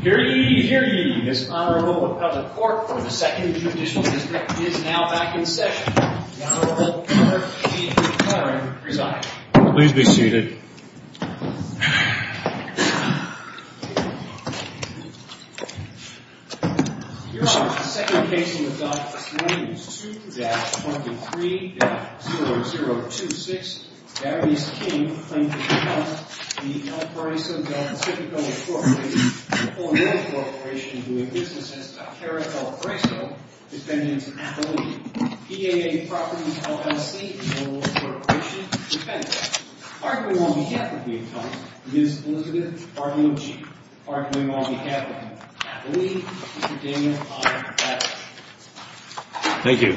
Here ye, here ye. This Honorable Appellate Court for the 2nd Judicial District is now back in session. The Honorable Eric E. McClaren presiding. Please be seated. Your Honor, the second case in the dock is Williams 2-23-0026. Darius King claims to be part of the El Paraiso Del Pacifico Corporation. The El Paraiso Del Pacifico Corporation, who in business has a carat El Paraiso, is then into custody. PAA Properties LLC holds the corporation's defense. Arguing on behalf of the attorney is Elizabeth Bartolucci. Arguing on behalf of the attorney is Mr. Daniel I. Patterson. Thank you.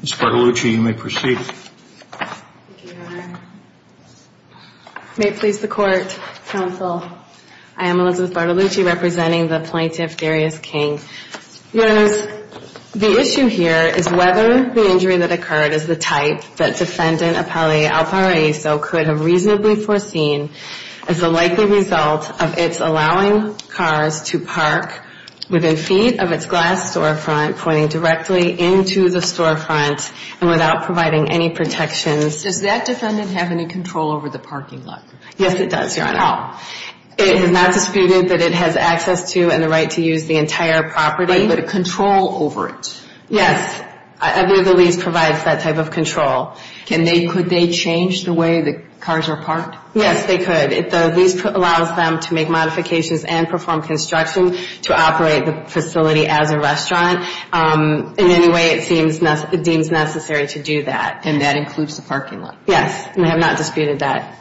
Ms. Bartolucci, you may proceed. Thank you, Your Honor. May it please the Court, Counsel. I am Elizabeth Bartolucci, representing the plaintiff, Darius King. Your Honors, the issue here is whether the injury that occurred is the type that defendant Appellate El Paraiso could have reasonably foreseen as a likely result of its allowing cars to park within feet of its glass storefront, pointing directly into the storefront, and without providing any protections. Does that defendant have any control over the parking lot? Yes, it does, Your Honor. How? It is not disputed that it has access to and the right to use the entire property. But control over it? Yes. I believe the lease provides that type of control. Could they change the way the cars are parked? Yes, they could. The lease allows them to make modifications and perform construction to operate the facility as a restaurant. In any way, it seems it deems necessary to do that. And that includes the parking lot? Yes, and we have not disputed that.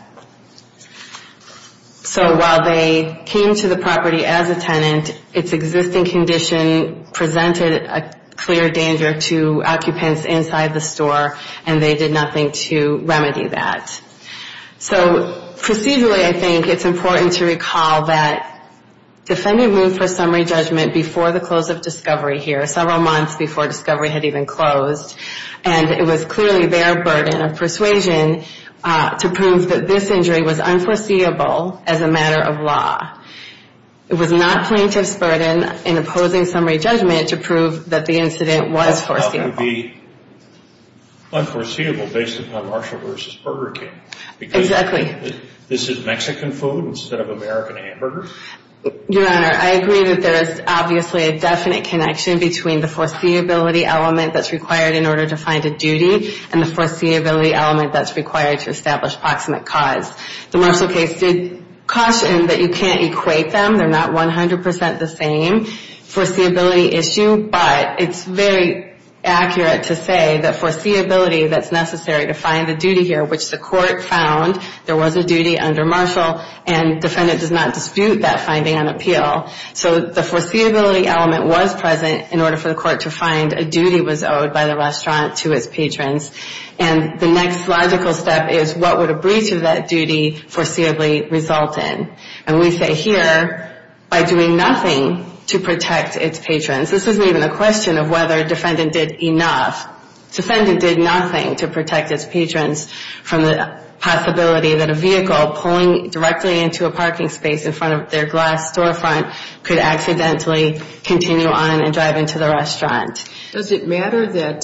So while they came to the property as a tenant, its existing condition presented a clear danger to occupants inside the store, and they did nothing to remedy that. So procedurally, I think it's important to recall that defendant moved for summary judgment before the close of discovery here, several months before discovery had even closed. And it was clearly their burden of persuasion to prove that this injury was unforeseeable as a matter of law. It was not plaintiff's burden in opposing summary judgment to prove that the incident was foreseeable. It can't be unforeseeable based upon Marshall v. Burger King. Exactly. Because this is Mexican food instead of American hamburgers? Your Honor, I agree that there is obviously a definite connection between the foreseeability element that's required in order to find a duty and the foreseeability element that's required to establish proximate cause. The Marshall case did caution that you can't equate them. They're not 100% the same foreseeability issue, but it's very accurate to say that foreseeability that's necessary to find a duty here, which the court found there was a duty under Marshall, and defendant does not dispute that finding on appeal. So the foreseeability element was present in order for the court to find a duty was owed by the restaurant to its patrons. And the next logical step is what would a breach of that duty foreseeably result in? And we say here by doing nothing to protect its patrons. This isn't even a question of whether defendant did enough. Defendant did nothing to protect its patrons from the possibility that a vehicle pulling directly into a parking space in front of their glass storefront could accidentally continue on and drive into the restaurant. Does it matter that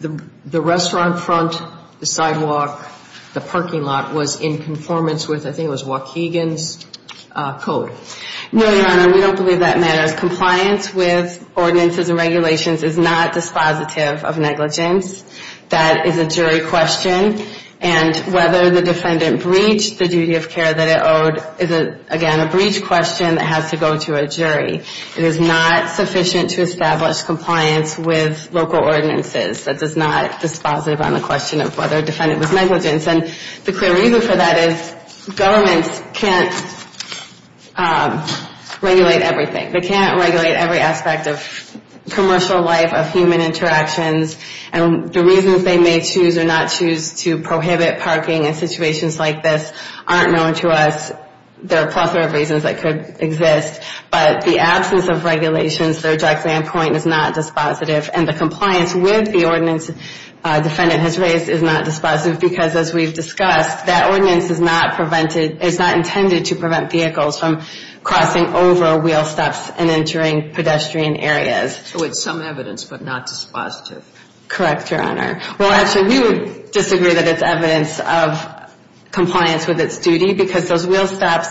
the restaurant front, the sidewalk, the parking lot was in conformance with I think it was Waukegan's code? No, Your Honor. We don't believe that matters. Compliance with ordinances and regulations is not dispositive of negligence. That is a jury question. And whether the defendant breached the duty of care that it owed is, again, a breach question that has to go to a jury. It is not sufficient to establish compliance with local ordinances. That is not dispositive on the question of whether defendant was negligent. And the clear reason for that is governments can't regulate everything. They can't regulate every aspect of commercial life, of human interactions. And the reasons they may choose or not choose to prohibit parking in situations like this aren't known to us. There are a plethora of reasons that could exist. But the absence of regulations, their direct standpoint is not dispositive. And the compliance with the ordinance defendant has raised is not dispositive because, as we've discussed, that ordinance is not intended to prevent vehicles from crossing over wheel stops and entering pedestrian areas. So it's some evidence but not dispositive. Correct, Your Honor. Well, actually, we would disagree that it's evidence of compliance with its duty because those wheel stops,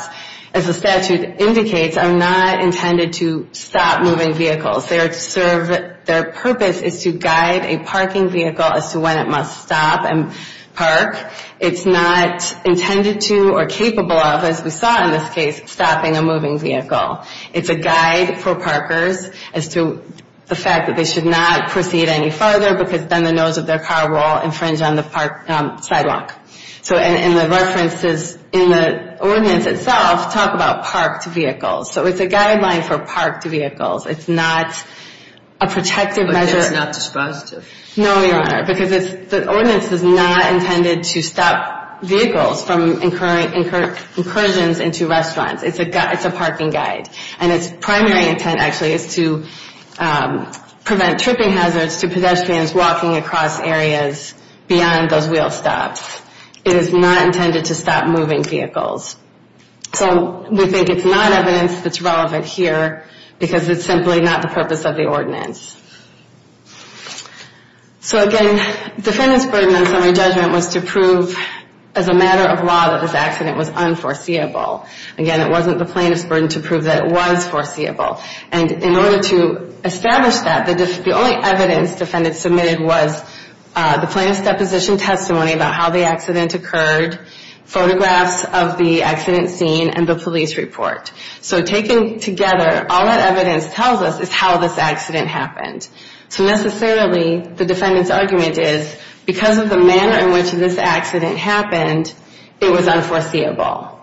as the statute indicates, are not intended to stop moving vehicles. Their purpose is to guide a parking vehicle as to when it must stop and park. It's not intended to or capable of, as we saw in this case, stopping a moving vehicle. It's a guide for parkers as to the fact that they should not proceed any farther because then the nose of their car will infringe on the sidewalk. So in the references in the ordinance itself talk about parked vehicles. So it's a guideline for parked vehicles. It's not a protective measure. But it's not dispositive. No, Your Honor, because the ordinance is not intended to stop vehicles from incurring incursions into restaurants. It's a parking guide. And its primary intent actually is to prevent tripping hazards to pedestrians walking across areas beyond those wheel stops. It is not intended to stop moving vehicles. So we think it's not evidence that's relevant here because it's simply not the purpose of the ordinance. So, again, defendant's burden on summary judgment was to prove as a matter of law that this accident was unforeseeable. Again, it wasn't the plaintiff's burden to prove that it was foreseeable. And in order to establish that, the only evidence defendant submitted was the plaintiff's deposition testimony about how the accident occurred, photographs of the accident scene, and the police report. So taken together, all that evidence tells us is how this accident happened. So necessarily, the defendant's argument is because of the manner in which this accident happened, it was unforeseeable.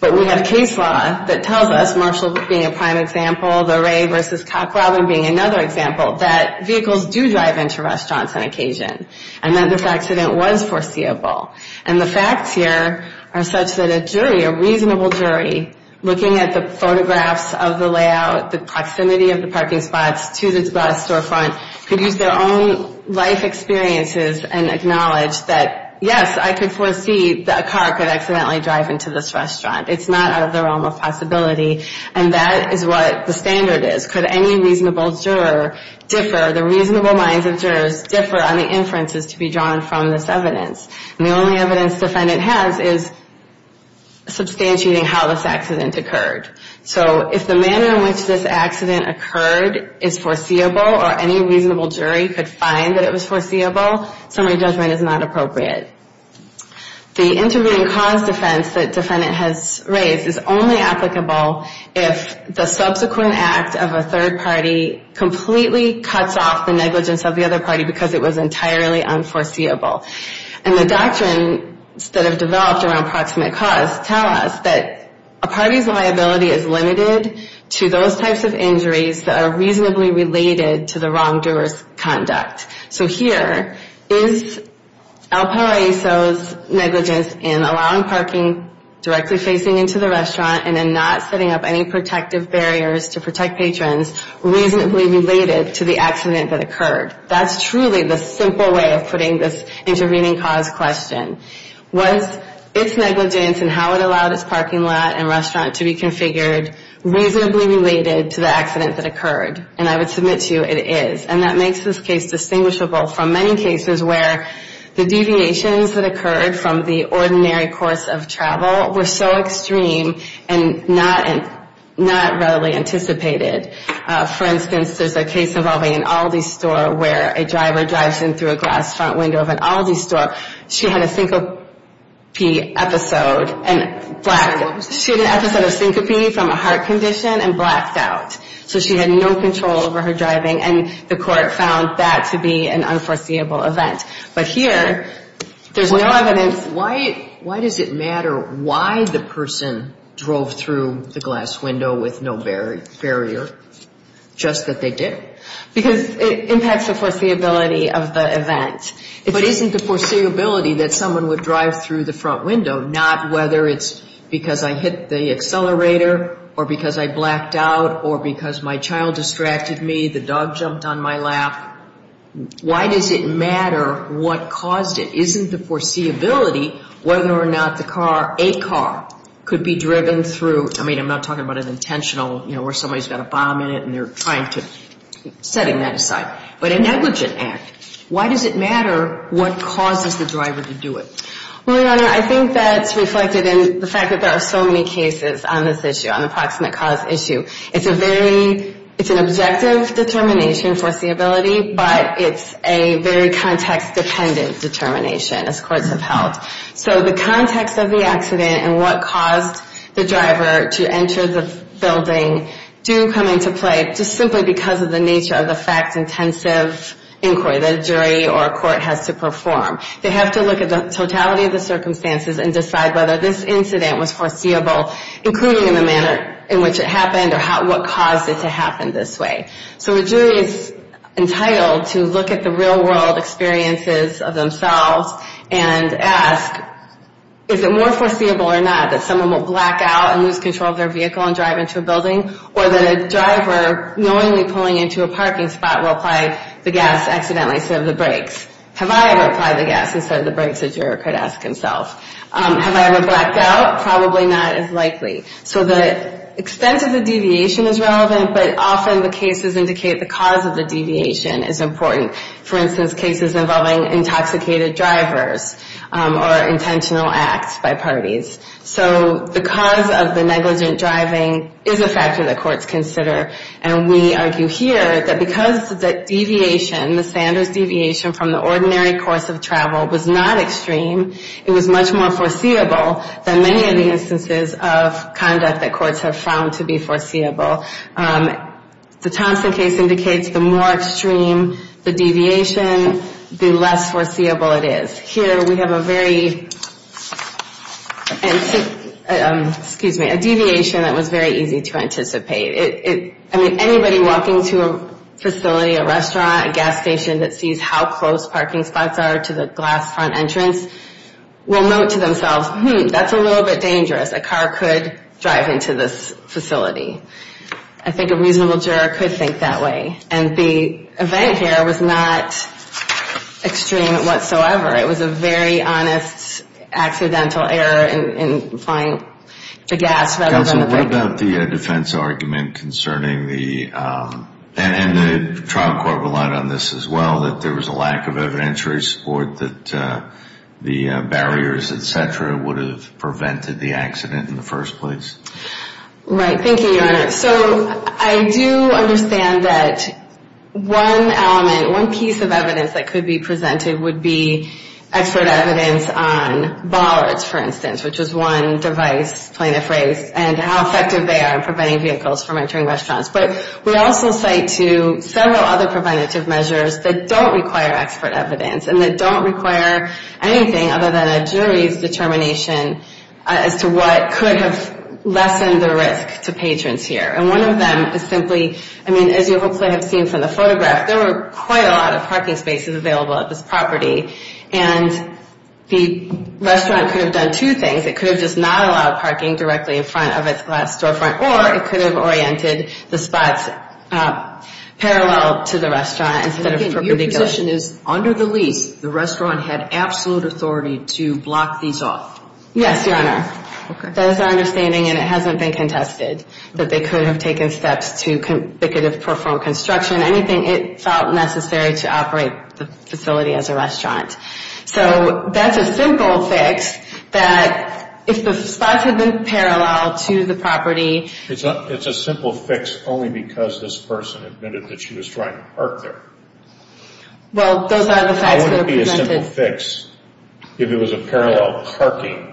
But we have case law that tells us, Marshall being a prime example, the Ray versus Cock Robin being another example, that vehicles do drive into restaurants on occasion and that this accident was foreseeable. And the facts here are such that a jury, a reasonable jury, looking at the photographs of the layout, the proximity of the parking spots to the bus storefront, could use their own life experiences and acknowledge that, yes, I could foresee that a car could accidentally drive into this restaurant. It's not out of the realm of possibility. And that is what the standard is. Could any reasonable juror differ? The reasonable minds of jurors differ on the inferences to be drawn from this evidence. And the only evidence defendant has is substantiating how this accident occurred. So if the manner in which this accident occurred is foreseeable or any reasonable jury could find that it was foreseeable, summary judgment is not appropriate. The intervening cause defense that defendant has raised is only applicable if the subsequent act of a third party completely cuts off the negligence of the other party because it was entirely unforeseeable. And the doctrines that have developed around proximate cause tell us that a party's liability is limited to those types of injuries that are reasonably related to the wrongdoer's conduct. So here is El Paro Aiso's negligence in allowing parking directly facing into the restaurant and then not setting up any protective barriers to protect patrons reasonably related to the accident that occurred. That's truly the simple way of putting this intervening cause question. Was its negligence and how it allowed its parking lot and restaurant to be configured reasonably related to the accident that occurred? And I would submit to you it is. And that makes this case distinguishable from many cases where the deviations that occurred from the ordinary course of travel were so extreme and not readily anticipated. For instance, there's a case involving an Aldi store where a driver drives in through a glass front window of an Aldi store. She had a syncope episode and blacked out. She had an episode of syncope from a heart condition and blacked out. So she had no control over her driving, and the court found that to be an unforeseeable event. But here, there's no evidence. Why does it matter why the person drove through the glass window with no barrier, just that they did? Because it impacts the foreseeability of the event. But isn't the foreseeability that someone would drive through the front window, not whether it's because I hit the accelerator or because I blacked out or because my child distracted me, the dog jumped on my lap? Why does it matter what caused it? Isn't the foreseeability whether or not the car, a car, could be driven through? I mean, I'm not talking about an intentional, you know, where somebody's got a bomb in it and they're trying to setting that aside. But a negligent act, why does it matter what causes the driver to do it? Well, Your Honor, I think that's reflected in the fact that there are so many cases on this issue, on the proximate cause issue. It's a very, it's an objective determination, foreseeability, but it's a very context-dependent determination, as courts have held. So the context of the accident and what caused the driver to enter the building do come into play, just simply because of the nature of the fact-intensive inquiry that a jury or a court has to perform. They have to look at the totality of the circumstances and decide whether this incident was foreseeable, including in the manner in which it happened or what caused it to happen this way. So a jury is entitled to look at the real-world experiences of themselves and ask, is it more foreseeable or not that someone will black out and lose control of their vehicle and drive into a building, or that a driver, knowingly pulling into a parking spot, will apply the gas accidentally instead of the brakes? Have I ever applied the gas instead of the brakes, a juror could ask himself. Have I ever blacked out? Probably not as likely. So the extent of the deviation is relevant, but often the cases indicate the cause of the deviation is important. For instance, cases involving intoxicated drivers or intentional acts by parties. So the cause of the negligent driving is a factor that courts consider, and we argue here that because the deviation, the Sanders deviation, from the ordinary course of travel was not extreme, it was much more foreseeable than many of the instances of conduct that courts have found to be foreseeable. The Thompson case indicates the more extreme the deviation, the less foreseeable it is. Here we have a very, excuse me, a deviation that was very easy to anticipate. I mean, anybody walking to a facility, a restaurant, a gas station that sees how close parking spots are to the glass front entrance will note to themselves, hmm, that's a little bit dangerous. A car could drive into this facility. I think a reasonable juror could think that way. And the event here was not extreme whatsoever. It was a very honest accidental error in applying the gas rather than the brakes. Counsel, what about the defense argument concerning the, and the trial court relied on this as well, that there was a lack of evidentiary support that the barriers, et cetera, would have prevented the accident in the first place? Right. Thank you, Your Honor. So I do understand that one element, one piece of evidence that could be presented would be expert evidence on bollards, for instance, which is one device plaintiff raised, and how effective they are in preventing vehicles from entering restaurants. But we also cite to several other preventative measures that don't require expert evidence and that don't require anything other than a jury's determination as to what could have lessened the risk to patrons here. And one of them is simply, I mean, as you hopefully have seen from the photograph, there were quite a lot of parking spaces available at this property. And the restaurant could have done two things. It could have just not allowed parking directly in front of its glass storefront, or it could have oriented the spots parallel to the restaurant instead of perpendicular. Your position is under the lease, the restaurant had absolute authority to block these off? Yes, Your Honor. Okay. That is our understanding, and it hasn't been contested, that they could have taken steps to, they could have performed construction, anything it felt necessary to operate the facility as a restaurant. So that's a simple fix that if the spots had been parallel to the property. It's a simple fix only because this person admitted that she was trying to park there. Well, those are the facts that are presented. It wouldn't be a simple fix if it was a parallel parking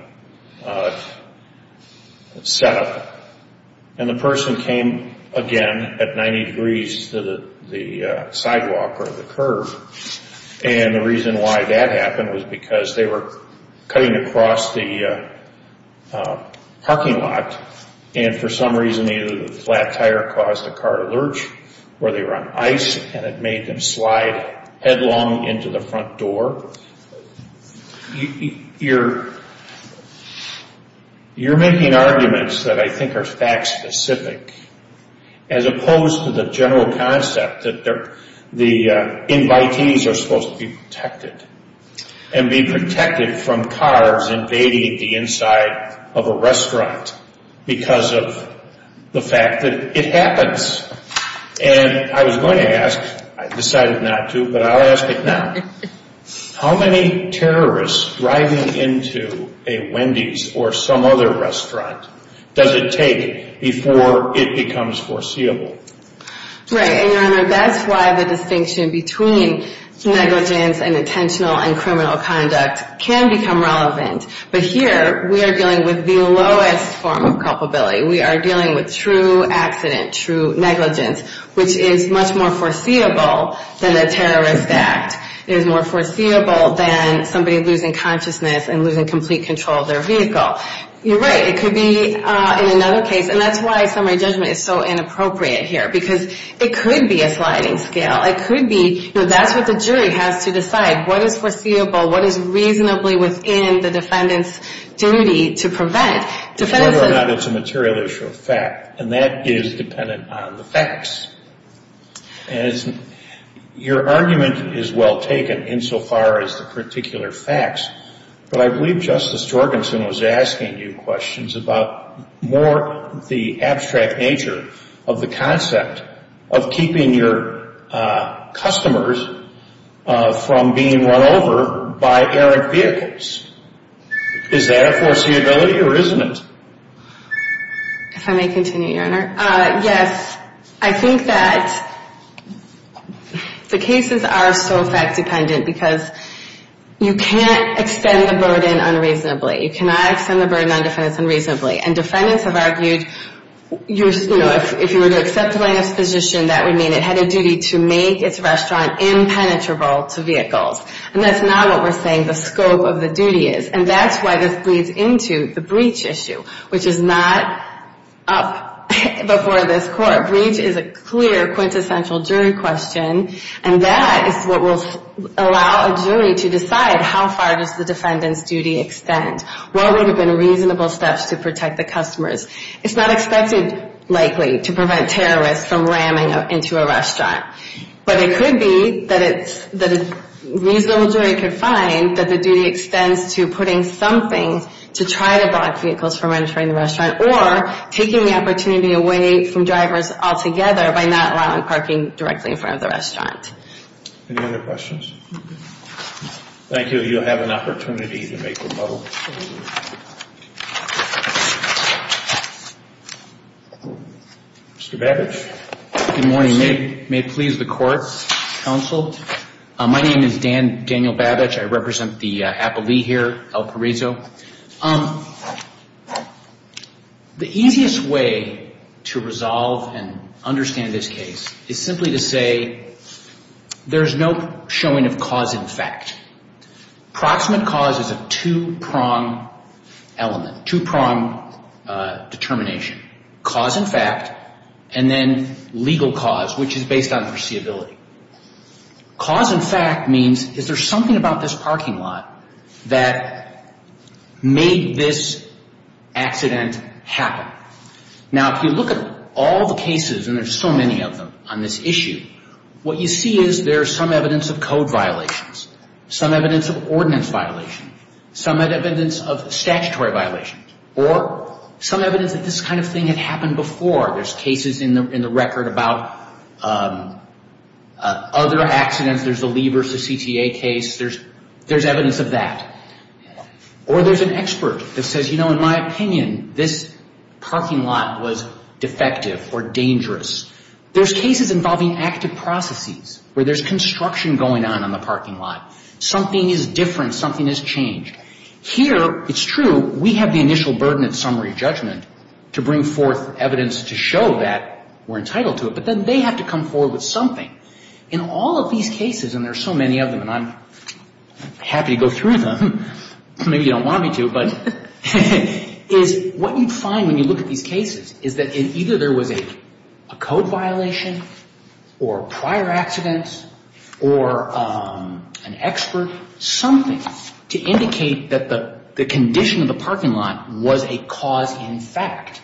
setup, and the person came again at 90 degrees to the sidewalk or the curb. And the reason why that happened was because they were cutting across the parking lot, and for some reason either the flat tire caused the car to lurch, or they were on ice and it made them slide headlong into the front door. You're making arguments that I think are fact specific, as opposed to the general concept that the invitees are supposed to be protected, and be protected from cars invading the inside of a restaurant because of the fact that it happens. And I was going to ask, I decided not to, but I'll ask it now. How many terrorists driving into a Wendy's or some other restaurant does it take before it becomes foreseeable? Right, and Your Honor, that's why the distinction between negligence and intentional and criminal conduct can become relevant. But here we are dealing with the lowest form of culpability. We are dealing with true accident, true negligence, which is much more foreseeable than a terrorist act. It is more foreseeable than somebody losing consciousness and losing complete control of their vehicle. You're right. It could be in another case, and that's why summary judgment is so inappropriate here, because it could be a sliding scale. It could be, you know, that's what the jury has to decide. What is foreseeable? What is reasonably within the defendant's duty to prevent? Whether or not it's a material issue of fact, and that is dependent on the facts. And your argument is well taken insofar as the particular facts, but I believe Justice Jorgensen was asking you questions about more the abstract nature of the concept of keeping your customers from being run over by errant vehicles. Is that a foreseeability or isn't it? If I may continue, Your Honor. Yes, I think that the cases are so fact dependent because you can't extend the burden unreasonably. You cannot extend the burden on defendants unreasonably. And defendants have argued, you know, if you were to accept the plaintiff's position, that would mean it had a duty to make its restaurant impenetrable to vehicles. And that's not what we're saying the scope of the duty is. And that's why this bleeds into the breach issue, which is not up before this court. Breach is a clear quintessential jury question. And that is what will allow a jury to decide how far does the defendant's duty extend? What would have been reasonable steps to protect the customers? It's not expected likely to prevent terrorists from ramming into a restaurant. But it could be that a reasonable jury could find that the duty extends to putting something to try to block vehicles from entering the restaurant or taking the opportunity away from drivers altogether by not allowing parking directly in front of the restaurant. Any other questions? Thank you. You'll have an opportunity to make rebuttals. Mr. Babich. Good morning. May it please the court, counsel. My name is Daniel Babich. I represent the appellee here, Al Parizo. The easiest way to resolve and understand this case is simply to say there's no showing of cause in fact. Approximate cause is a two-prong element, two-prong determination. Cause in fact and then legal cause, which is based on foreseeability. Cause in fact means is there something about this parking lot that made this accident happen? Now, if you look at all the cases, and there's so many of them on this issue, what you see is there's some evidence of code violations, some evidence of ordinance violation, some evidence of statutory violation, or some evidence that this kind of thing had happened before. There's cases in the record about other accidents. There's the Lee versus CTA case. There's evidence of that. Or there's an expert that says, you know, in my opinion, this parking lot was defective or dangerous. There's cases involving active processes where there's construction going on in the parking lot. Something is different. Something has changed. Here, it's true, we have the initial burden of summary judgment to bring forth evidence to show that we're entitled to it. But then they have to come forward with something. In all of these cases, and there's so many of them, and I'm happy to go through them. Maybe you don't want me to. But what you find when you look at these cases is that either there was a code violation or prior accidents or an expert, something to indicate that the condition of the parking lot was a cause in fact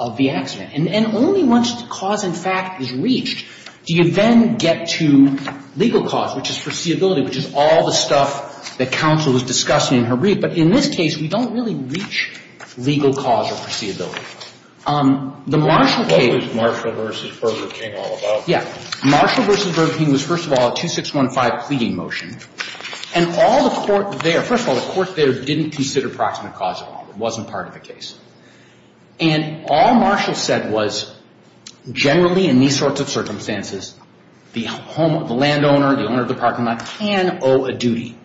of the accident. And only once the cause in fact is reached do you then get to legal cause, which is foreseeability, which is all the stuff that counsel was discussing in her brief. But in this case, we don't really reach legal cause or foreseeability. The Marshall case. What was Marshall v. Burger King all about? Yeah. Marshall v. Burger King was, first of all, a 2615 pleading motion. And all the court there, first of all, the court there didn't consider proximate cause at all. It wasn't part of the case. And all Marshall said was generally in these sorts of circumstances, the home, the landowner, the owner of the parking lot can owe a duty.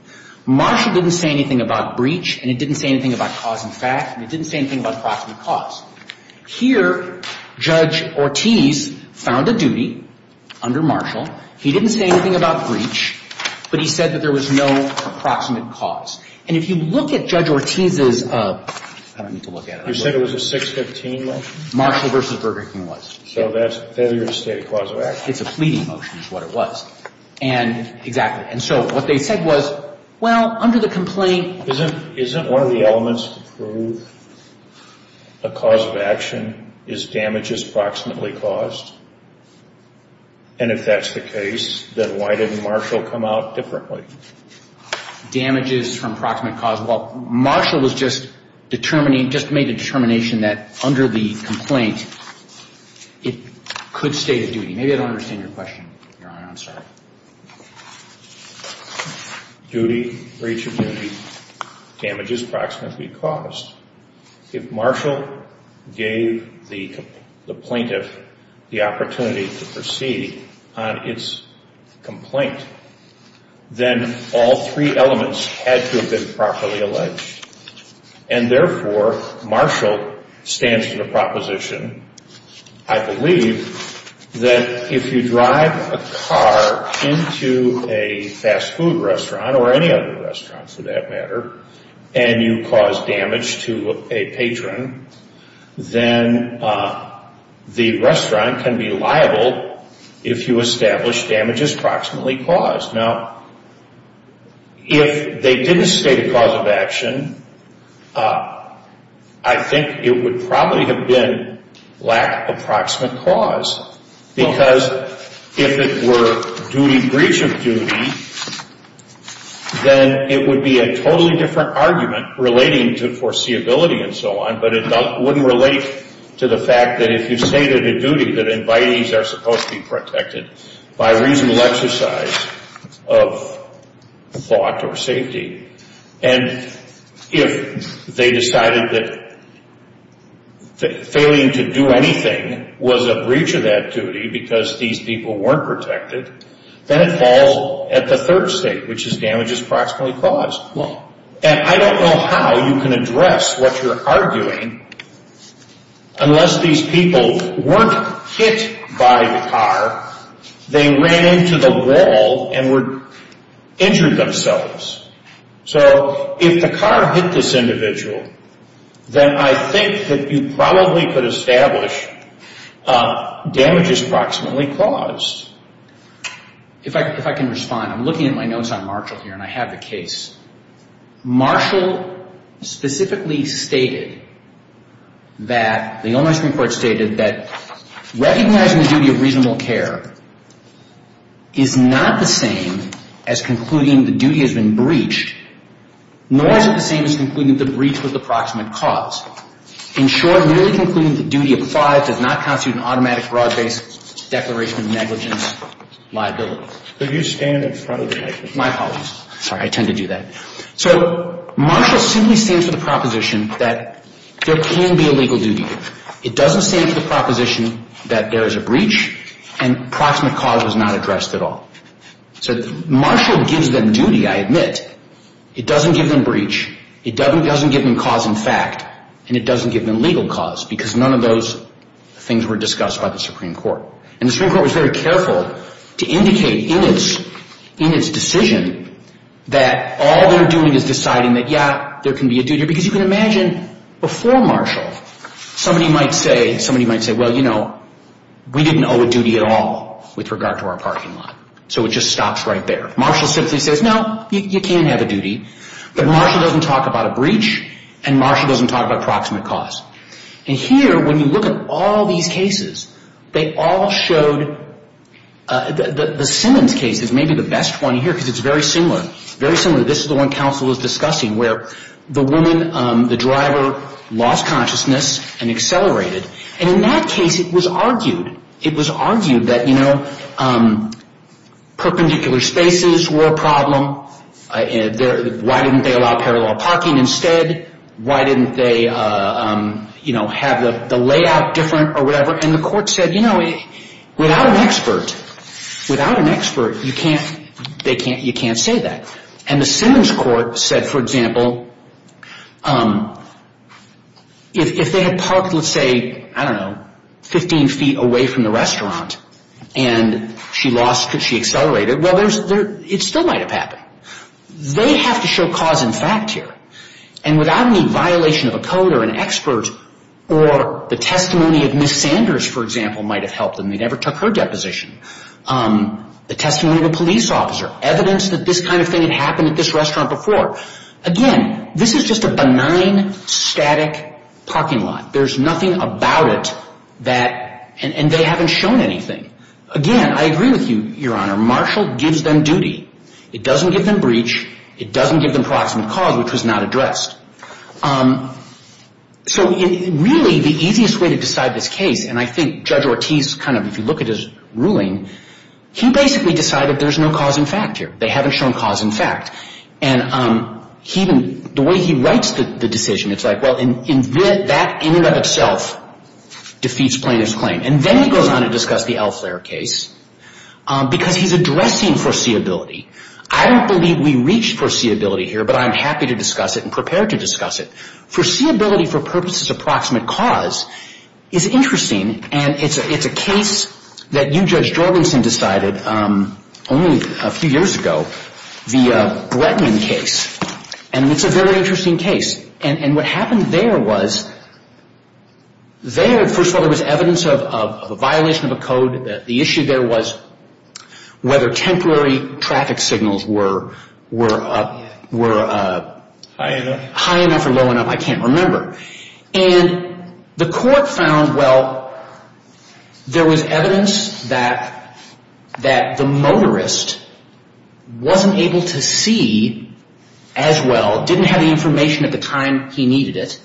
Marshall didn't say anything about breach. And it didn't say anything about cause in fact. And it didn't say anything about proximate cause. Here, Judge Ortiz found a duty under Marshall. He didn't say anything about breach. But he said that there was no proximate cause. And if you look at Judge Ortiz's, I don't need to look at it. You said it was a 615 motion? Marshall v. Burger King was. So that's failure to state a cause of accident. It's a pleading motion is what it was. And exactly. And so what they said was, well, under the complaint. Isn't one of the elements to prove a cause of action is damages proximately caused? And if that's the case, then why didn't Marshall come out differently? Damages from proximate cause. Well, Marshall was just determining, just made the determination that under the complaint, it could state a duty. Maybe I don't understand your question, Your Honor. I'm sorry. Duty, breach of duty, damages proximately caused. If Marshall gave the plaintiff the opportunity to proceed on its complaint, then all three elements had to have been properly alleged. And therefore, Marshall stands to the proposition, I believe, that if you drive a car into a fast food restaurant, or any other restaurant for that matter, and you cause damage to a patron, then the restaurant can be liable if you establish damages proximately caused. Now, if they didn't state a cause of action, I think it would probably have been lack of proximate cause. Because if it were duty, breach of duty, then it would be a totally different argument relating to foreseeability and so on. But it wouldn't relate to the fact that if you stated a duty, that invitees are supposed to be protected by reasonable exercise of thought or safety. And if they decided that failing to do anything was a breach of that duty because these people weren't protected, then it falls at the third state, which is damages proximately caused. And I don't know how you can address what you're arguing unless these people weren't hit by the car. They ran into the wall and were injured themselves. So if the car hit this individual, then I think that you probably could establish damages proximately caused. If I can respond, I'm looking at my notes on Marshall here, and I have the case. Marshall specifically stated that the Illinois Supreme Court stated that recognizing the duty of reasonable care is not the same as concluding the duty has been breached, nor is it the same as concluding the breach was the proximate cause. In short, merely concluding the duty of five does not constitute an automatic broad-based declaration of negligence liability. So you stand in front of the judge? My apologies. Sorry, I tend to do that. So Marshall simply stands for the proposition that there can be a legal duty. It doesn't stand for the proposition that there is a breach and proximate cause was not addressed at all. So Marshall gives them duty, I admit. It doesn't give them breach. It doesn't give them cause in fact, and it doesn't give them legal cause because none of those things were discussed by the Supreme Court. And the Supreme Court was very careful to indicate in its decision that all they're doing is deciding that, yeah, there can be a duty. Because you can imagine before Marshall, somebody might say, well, you know, we didn't owe a duty at all with regard to our parking lot. So it just stops right there. But Marshall doesn't talk about a breach and Marshall doesn't talk about proximate cause. And here, when you look at all these cases, they all showed the Simmons case is maybe the best one here because it's very similar. Very similar. This is the one counsel is discussing where the woman, the driver, lost consciousness and accelerated. And in that case, it was argued. It was argued that, you know, perpendicular spaces were a problem. Why didn't they allow parallel parking instead? Why didn't they, you know, have the layout different or whatever? And the court said, you know, without an expert, without an expert, you can't say that. And the Simmons court said, for example, if they had parked, let's say, I don't know, 15 feet away from the restaurant and she lost, she accelerated, well, it still might have happened. They have to show cause and fact here. And without any violation of a code or an expert or the testimony of Ms. Sanders, for example, might have helped them. They never took her deposition. The testimony of a police officer, evidence that this kind of thing had happened at this restaurant before. Again, this is just a benign, static parking lot. There's nothing about it that, and they haven't shown anything. Again, I agree with you, Your Honor. Marshall gives them duty. It doesn't give them breach. It doesn't give them proximate cause, which was not addressed. So really the easiest way to decide this case, and I think Judge Ortiz kind of, if you look at his ruling, he basically decided there's no cause and fact here. They haven't shown cause and fact. And the way he writes the decision, it's like, well, that in and of itself defeats plaintiff's claim. And then he goes on to discuss the Al Flair case because he's addressing foreseeability. I don't believe we reach foreseeability here, but I'm happy to discuss it and prepared to discuss it. Foreseeability for purposes of proximate cause is interesting, and it's a case that you, Judge Jorgensen, decided only a few years ago, the Bretman case. And it's a very interesting case. And what happened there was there, first of all, there was evidence of a violation of a code. The issue there was whether temporary traffic signals were high enough or low enough. I can't remember. And the court found, well, there was evidence that the motorist wasn't able to see as well, didn't have the information at the time he needed it,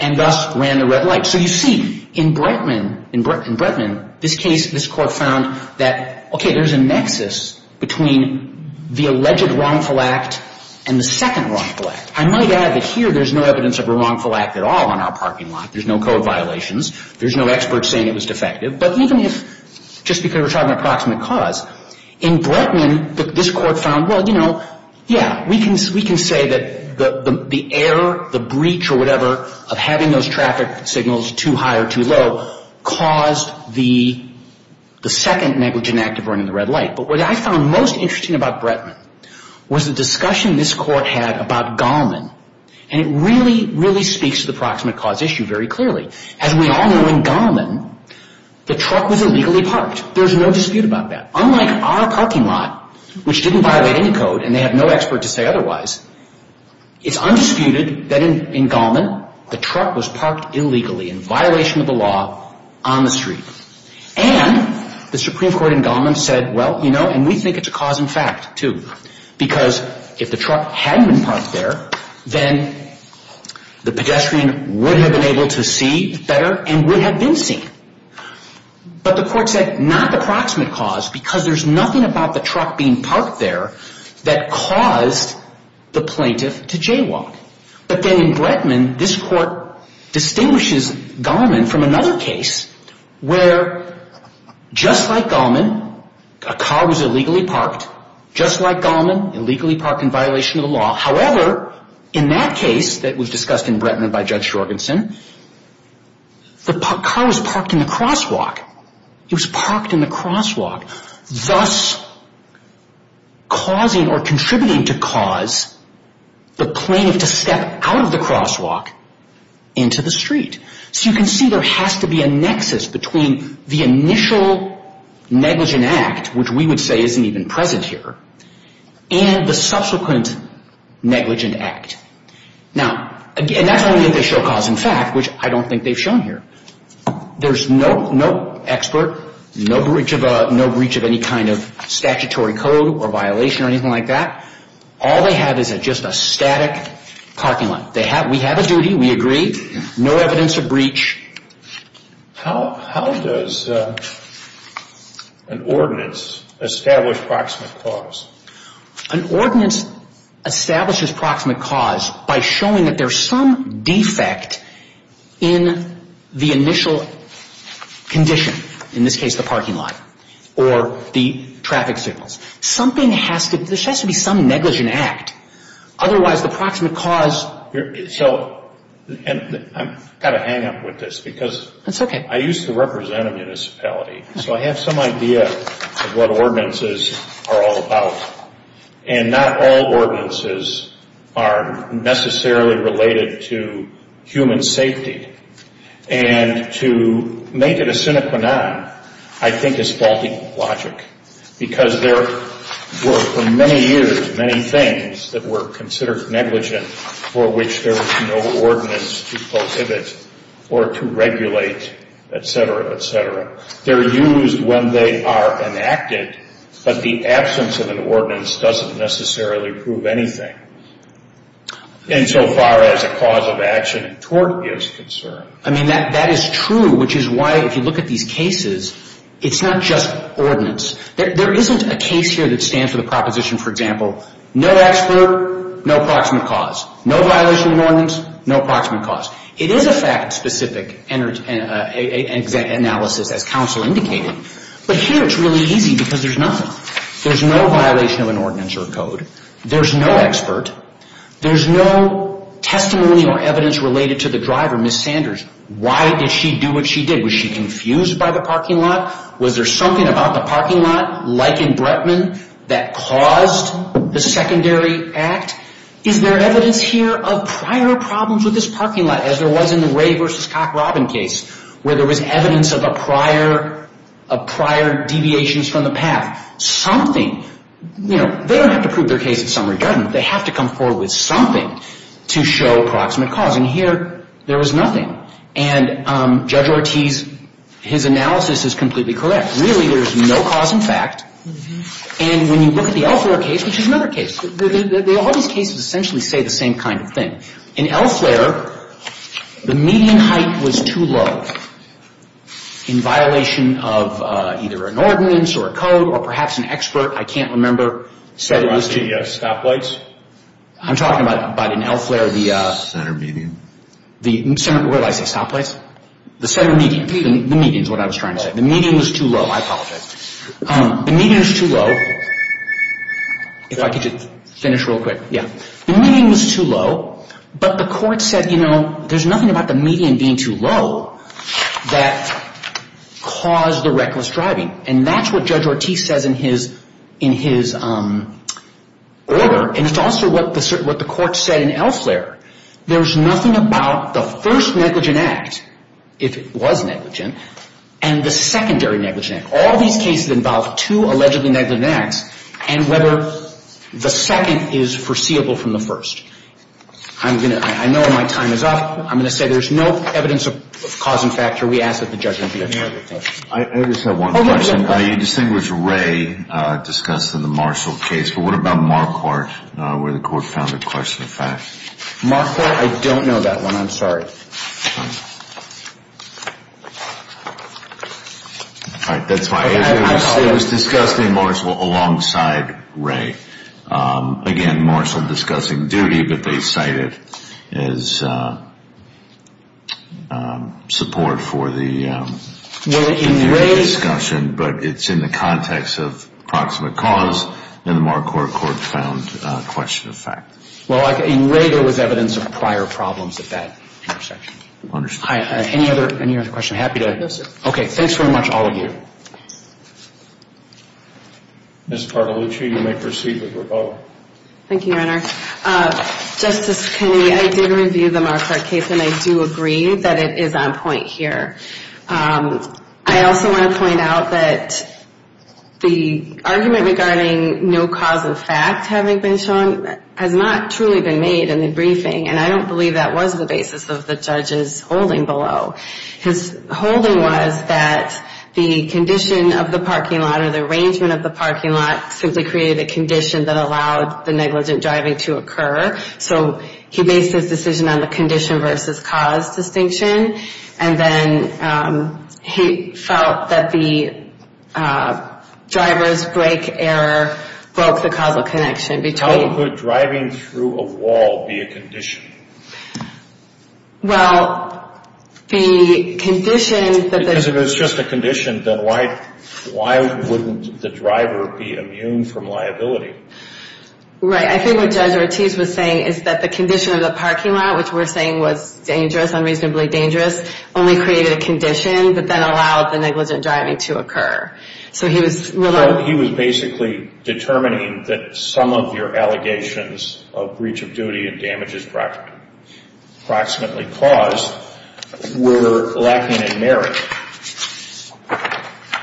and thus ran the red light. So you see, in Bretman, this case, this court found that, okay, there's a nexus between the alleged wrongful act and the second wrongful act. I might add that here there's no evidence of a wrongful act at all on our parking lot. There's no code violations. There's no expert saying it was defective. But even if, just because we're talking approximate cause, in Bretman, this court found, well, you know, yeah, we can say that the error, the breach or whatever, of having those traffic signals too high or too low caused the second negligent act of running the red light. But what I found most interesting about Bretman was the discussion this court had about Gallman. And it really, really speaks to the approximate cause issue very clearly. As we all know, in Gallman, the truck was illegally parked. There's no dispute about that. Unlike our parking lot, which didn't violate any code, and they have no expert to say otherwise, it's undisputed that in Gallman, the truck was parked illegally in violation of the law on the street. And the Supreme Court in Gallman said, well, you know, and we think it's a cause in fact too, because if the truck hadn't been parked there, then the pedestrian would have been able to see better and would have been seen. But the court said not the approximate cause because there's nothing about the truck being parked there that caused the plaintiff to jaywalk. But then in Bretman, this court distinguishes Gallman from another case where just like Gallman, a car was illegally parked, just like Gallman, illegally parked in violation of the law. However, in that case that was discussed in Bretman by Judge Jorgensen, the car was parked in the crosswalk. It was parked in the crosswalk, thus causing or contributing to cause the plaintiff to step out of the crosswalk into the street. So you can see there has to be a nexus between the initial negligent act, which we would say isn't even present here, and the subsequent negligent act. Now, and that's only if they show cause in fact, which I don't think they've shown here. There's no expert, no breach of any kind of statutory code or violation or anything like that. All they have is just a static parking lot. We have a duty, we agree, no evidence of breach. How does an ordinance establish proximate cause? An ordinance establishes proximate cause by showing that there's some defect in the initial condition, in this case the parking lot or the traffic signals. Something has to, there has to be some negligent act. Otherwise, the proximate cause. So, and I've got to hang up with this because I used to represent a municipality. So I have some idea of what ordinances are all about. And not all ordinances are necessarily related to human safety. And to make it a sine qua non, I think is faulty logic. Because there were, for many years, many things that were considered negligent for which there was no ordinance to prohibit or to regulate, et cetera, et cetera. They're used when they are enacted, but the absence of an ordinance doesn't necessarily prove anything. Insofar as a cause of action and tort is concerned. I mean, that is true, which is why if you look at these cases, it's not just ordinance. There isn't a case here that stands for the proposition, for example, no expert, no proximate cause. No violation of an ordinance, no proximate cause. It is a fact-specific analysis as counsel indicated. But here it's really easy because there's nothing. There's no violation of an ordinance or a code. There's no expert. There's no testimony or evidence related to the driver, Ms. Sanders. Why did she do what she did? Was she confused by the parking lot? Was there something about the parking lot, like in Bretman, that caused the secondary act? Is there evidence here of prior problems with this parking lot as there was in the Ray v. Cockrobin case where there was evidence of prior deviations from the path? Something, you know, they don't have to prove their case in summary judgment. They have to come forward with something to show proximate cause. And here there was nothing. And Judge Ortiz, his analysis is completely correct. Really there's no cause in fact. And when you look at the Elflair case, which is another case, all these cases essentially say the same kind of thing. In Elflair, the median height was too low in violation of either an ordinance or a code or perhaps an expert, I can't remember, said it was too low. You're talking about stoplights? I'm talking about in Elflair the center median. Where did I say stoplights? The center median. The median is what I was trying to say. The median was too low. I apologize. The median was too low. If I could just finish real quick. Yeah. The median was too low, but the court said, you know, there's nothing about the median being too low that caused the reckless driving. And that's what Judge Ortiz says in his order. And it's also what the court said in Elflair. There's nothing about the first negligent act, if it was negligent, and the secondary negligent act. All these cases involve two allegedly negligent acts, and whether the second is foreseeable from the first. I know my time is up. I'm going to say there's no evidence of cause in fact here. We ask that the judge review it. I just have one question. You distinguished Ray discussed in the Marshall case. But what about Marquardt, where the court found a question of fact? Marquardt, I don't know that one. I'm sorry. All right. That's why I asked. It was discussed in Marshall alongside Ray. Again, Marshall discussing duty, but they cite it as support for the discussion. But it's in the context of proximate cause, and the Marquardt court found a question of fact. Well, in Ray there was evidence of prior problems at that intersection. Understood. Any other questions? Happy to. Yes, sir. Okay. Thanks very much, all of you. Ms. Bartolucci, you may proceed with your vote. Thank you, Your Honor. Justice Kennedy, I did review the Marquardt case, and I do agree that it is on point here. I also want to point out that the argument regarding no cause of fact having been shown has not truly been made in the briefing, and I don't believe that was the basis of the judge's holding below. His holding was that the condition of the parking lot or the arrangement of the parking lot simply created a condition that allowed the negligent driving to occur. So he based his decision on the condition versus cause distinction, and then he felt that the driver's brake error broke the causal connection. How could driving through a wall be a condition? Well, the condition that the – Because if it's just a condition, then why wouldn't the driver be immune from liability? Right. I think what Judge Ortiz was saying is that the condition of the parking lot, which we're saying was dangerous, unreasonably dangerous, only created a condition but then allowed the negligent driving to occur. So he was – Approximately caused were lacking in merit.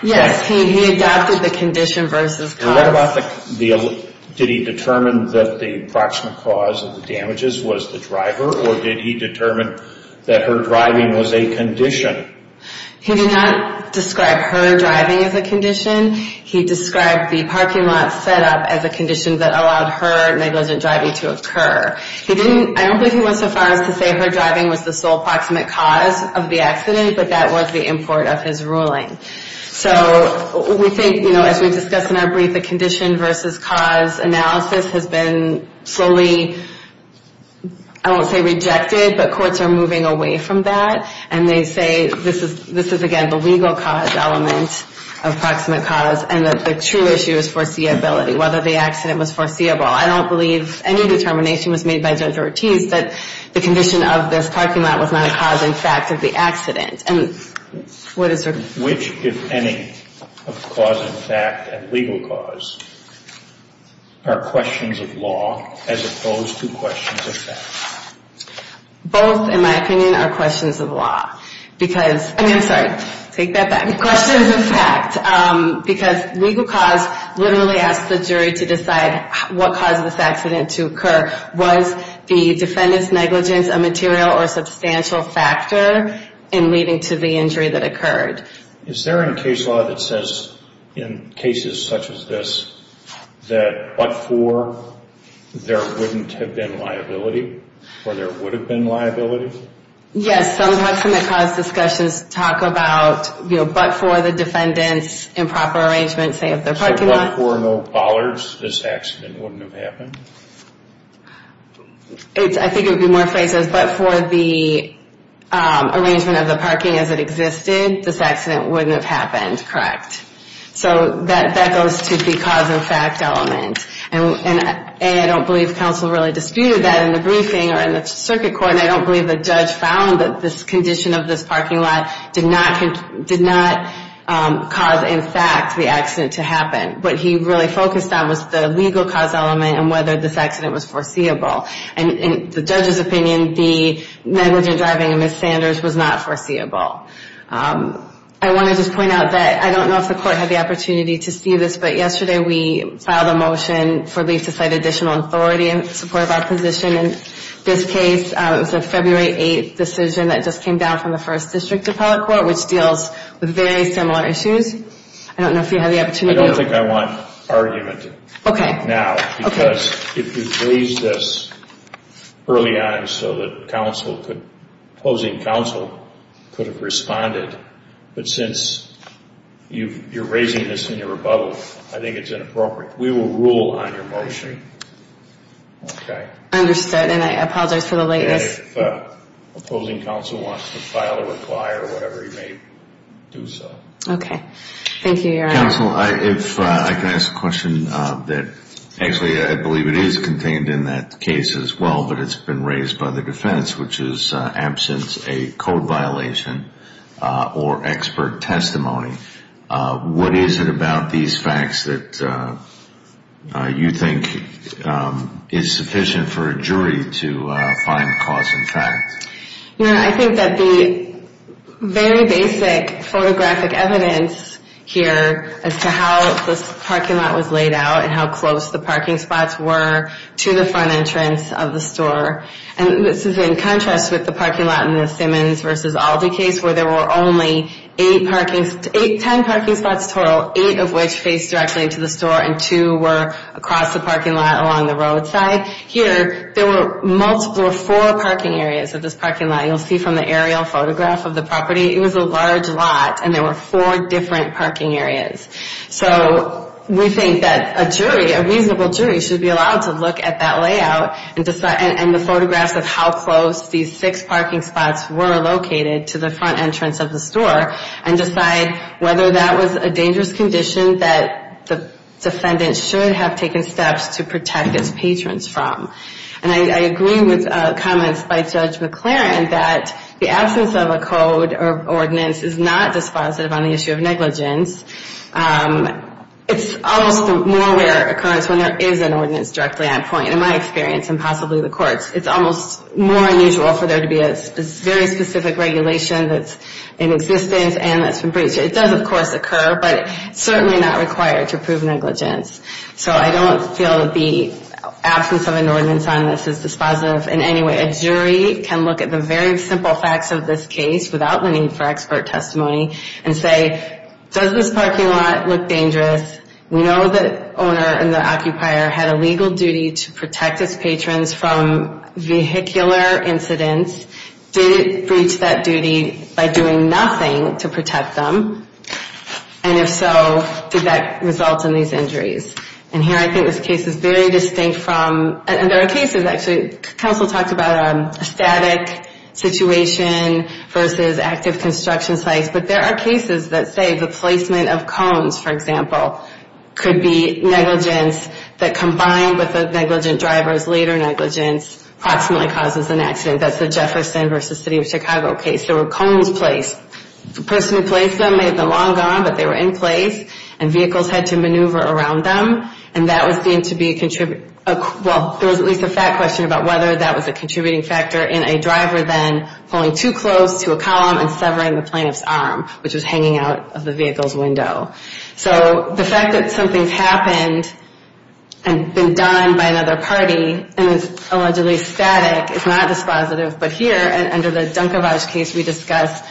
Yes. He adopted the condition versus cause. What about the – Did he determine that the approximate cause of the damages was the driver, or did he determine that her driving was a condition? He did not describe her driving as a condition. He described the parking lot set up as a condition that allowed her negligent driving to occur. He didn't – I don't believe he went so far as to say her driving was the sole approximate cause of the accident, but that was the import of his ruling. So we think, you know, as we discussed in our brief, the condition versus cause analysis has been slowly, I won't say rejected, but courts are moving away from that, and they say this is, again, the legal cause element of approximate cause, and that the true issue is foreseeability, whether the accident was foreseeable. I don't believe any determination was made by Judge Ortiz that the condition of this parking lot was not a cause in fact of the accident. And what is – Which, if any, of cause in fact and legal cause are questions of law as opposed to questions of fact? Both, in my opinion, are questions of law because – I'm sorry. Take that back. Both are questions of fact because legal cause literally asks the jury to decide what caused this accident to occur. Was the defendant's negligence a material or substantial factor in leading to the injury that occurred? Is there any case law that says in cases such as this that but for there wouldn't have been liability or there would have been liability? Yes. Some of the cause discussions talk about but for the defendant's improper arrangement, say, of their parking lot. So but for no followers, this accident wouldn't have happened? I think it would be more phrased as but for the arrangement of the parking as it existed, this accident wouldn't have happened. Correct. So that goes to the cause in fact element. And I don't believe counsel really disputed that in the briefing or in the circuit court, and I don't believe the judge found that this condition of this parking lot did not cause, in fact, the accident to happen. What he really focused on was the legal cause element and whether this accident was foreseeable. And in the judge's opinion, the negligent driving of Ms. Sanders was not foreseeable. I want to just point out that I don't know if the court had the opportunity to see this, but yesterday we filed a motion for leave to cite additional authority in support of our position in this case. It was a February 8 decision that just came down from the First District Appellate Court, which deals with very similar issues. I don't know if you had the opportunity to do it. I don't think I want argument now because you raised this early on so that counsel could, opposing counsel could have responded. But since you're raising this in your rebuttal, I think it's inappropriate. We will rule on your motion. Okay. Understood, and I apologize for the lateness. If opposing counsel wants to file a reply or whatever, he may do so. Okay. Thank you, Your Honor. Counsel, if I can ask a question that actually I believe it is contained in that case as well, but it's been raised by the defense, which is absence a code violation or expert testimony. What is it about these facts that you think is sufficient for a jury to find cause in fact? Your Honor, I think that the very basic photographic evidence here as to how this parking lot was laid out and how close the parking spots were to the front entrance of the store, and this is in contrast with the parking lot in the Simmons v. Aldi case where there were only ten parking spots total, eight of which faced directly into the store and two were across the parking lot along the roadside. Here, there were four parking areas of this parking lot. You'll see from the aerial photograph of the property, it was a large lot, and there were four different parking areas. So we think that a jury, a reasonable jury, should be allowed to look at that layout and the photographs of how close these six parking spots were located to the front entrance of the store and decide whether that was a dangerous condition that the defendant should have taken steps to protect its patrons from. And I agree with comments by Judge McLaren that the absence of a code or ordinance is not dispositive on the issue of negligence. It's almost a more rare occurrence when there is an ordinance directly on point. In my experience, and possibly the court's, it's almost more unusual for there to be a very specific regulation that's in existence and that's been breached. It does, of course, occur, but it's certainly not required to prove negligence. So I don't feel that the absence of an ordinance on this is dispositive in any way. A jury can look at the very simple facts of this case without the need for expert testimony and say, does this parking lot look dangerous? We know the owner and the occupier had a legal duty to protect its patrons from vehicular incidents. Did it breach that duty by doing nothing to protect them? And if so, did that result in these injuries? And here I think this case is very distinct from, and there are cases actually, counsel talked about a static situation versus active construction sites, but there are cases that say the placement of cones, for example, could be negligence that combined with the negligent driver's later negligence approximately causes an accident. That's the Jefferson v. City of Chicago case. There were cones placed. The person who placed them made them long gone, but they were in place, and vehicles had to maneuver around them, and that was deemed to be a, well, there was at least a fact question about whether that was a contributing factor in a driver then pulling too close to a column and severing the plaintiff's arm, which was hanging out of the vehicle's window. So the fact that something's happened and been done by another party and is allegedly static is not dispositive, but here under the Dunkevage case we discussed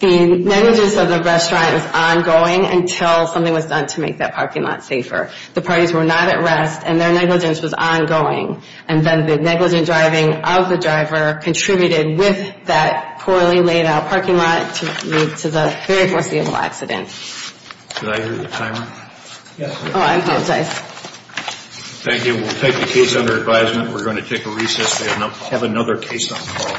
the negligence of the restaurant was ongoing until something was done to make that parking lot safer. The parties were not at rest, and their negligence was ongoing, and then the negligent driving of the driver contributed with that poorly laid out parking lot to lead to the very foreseeable accident. Did I hear the timer? Oh, I apologize. Thank you. We'll take the case under advisement. We're going to take a recess. We have another case on call.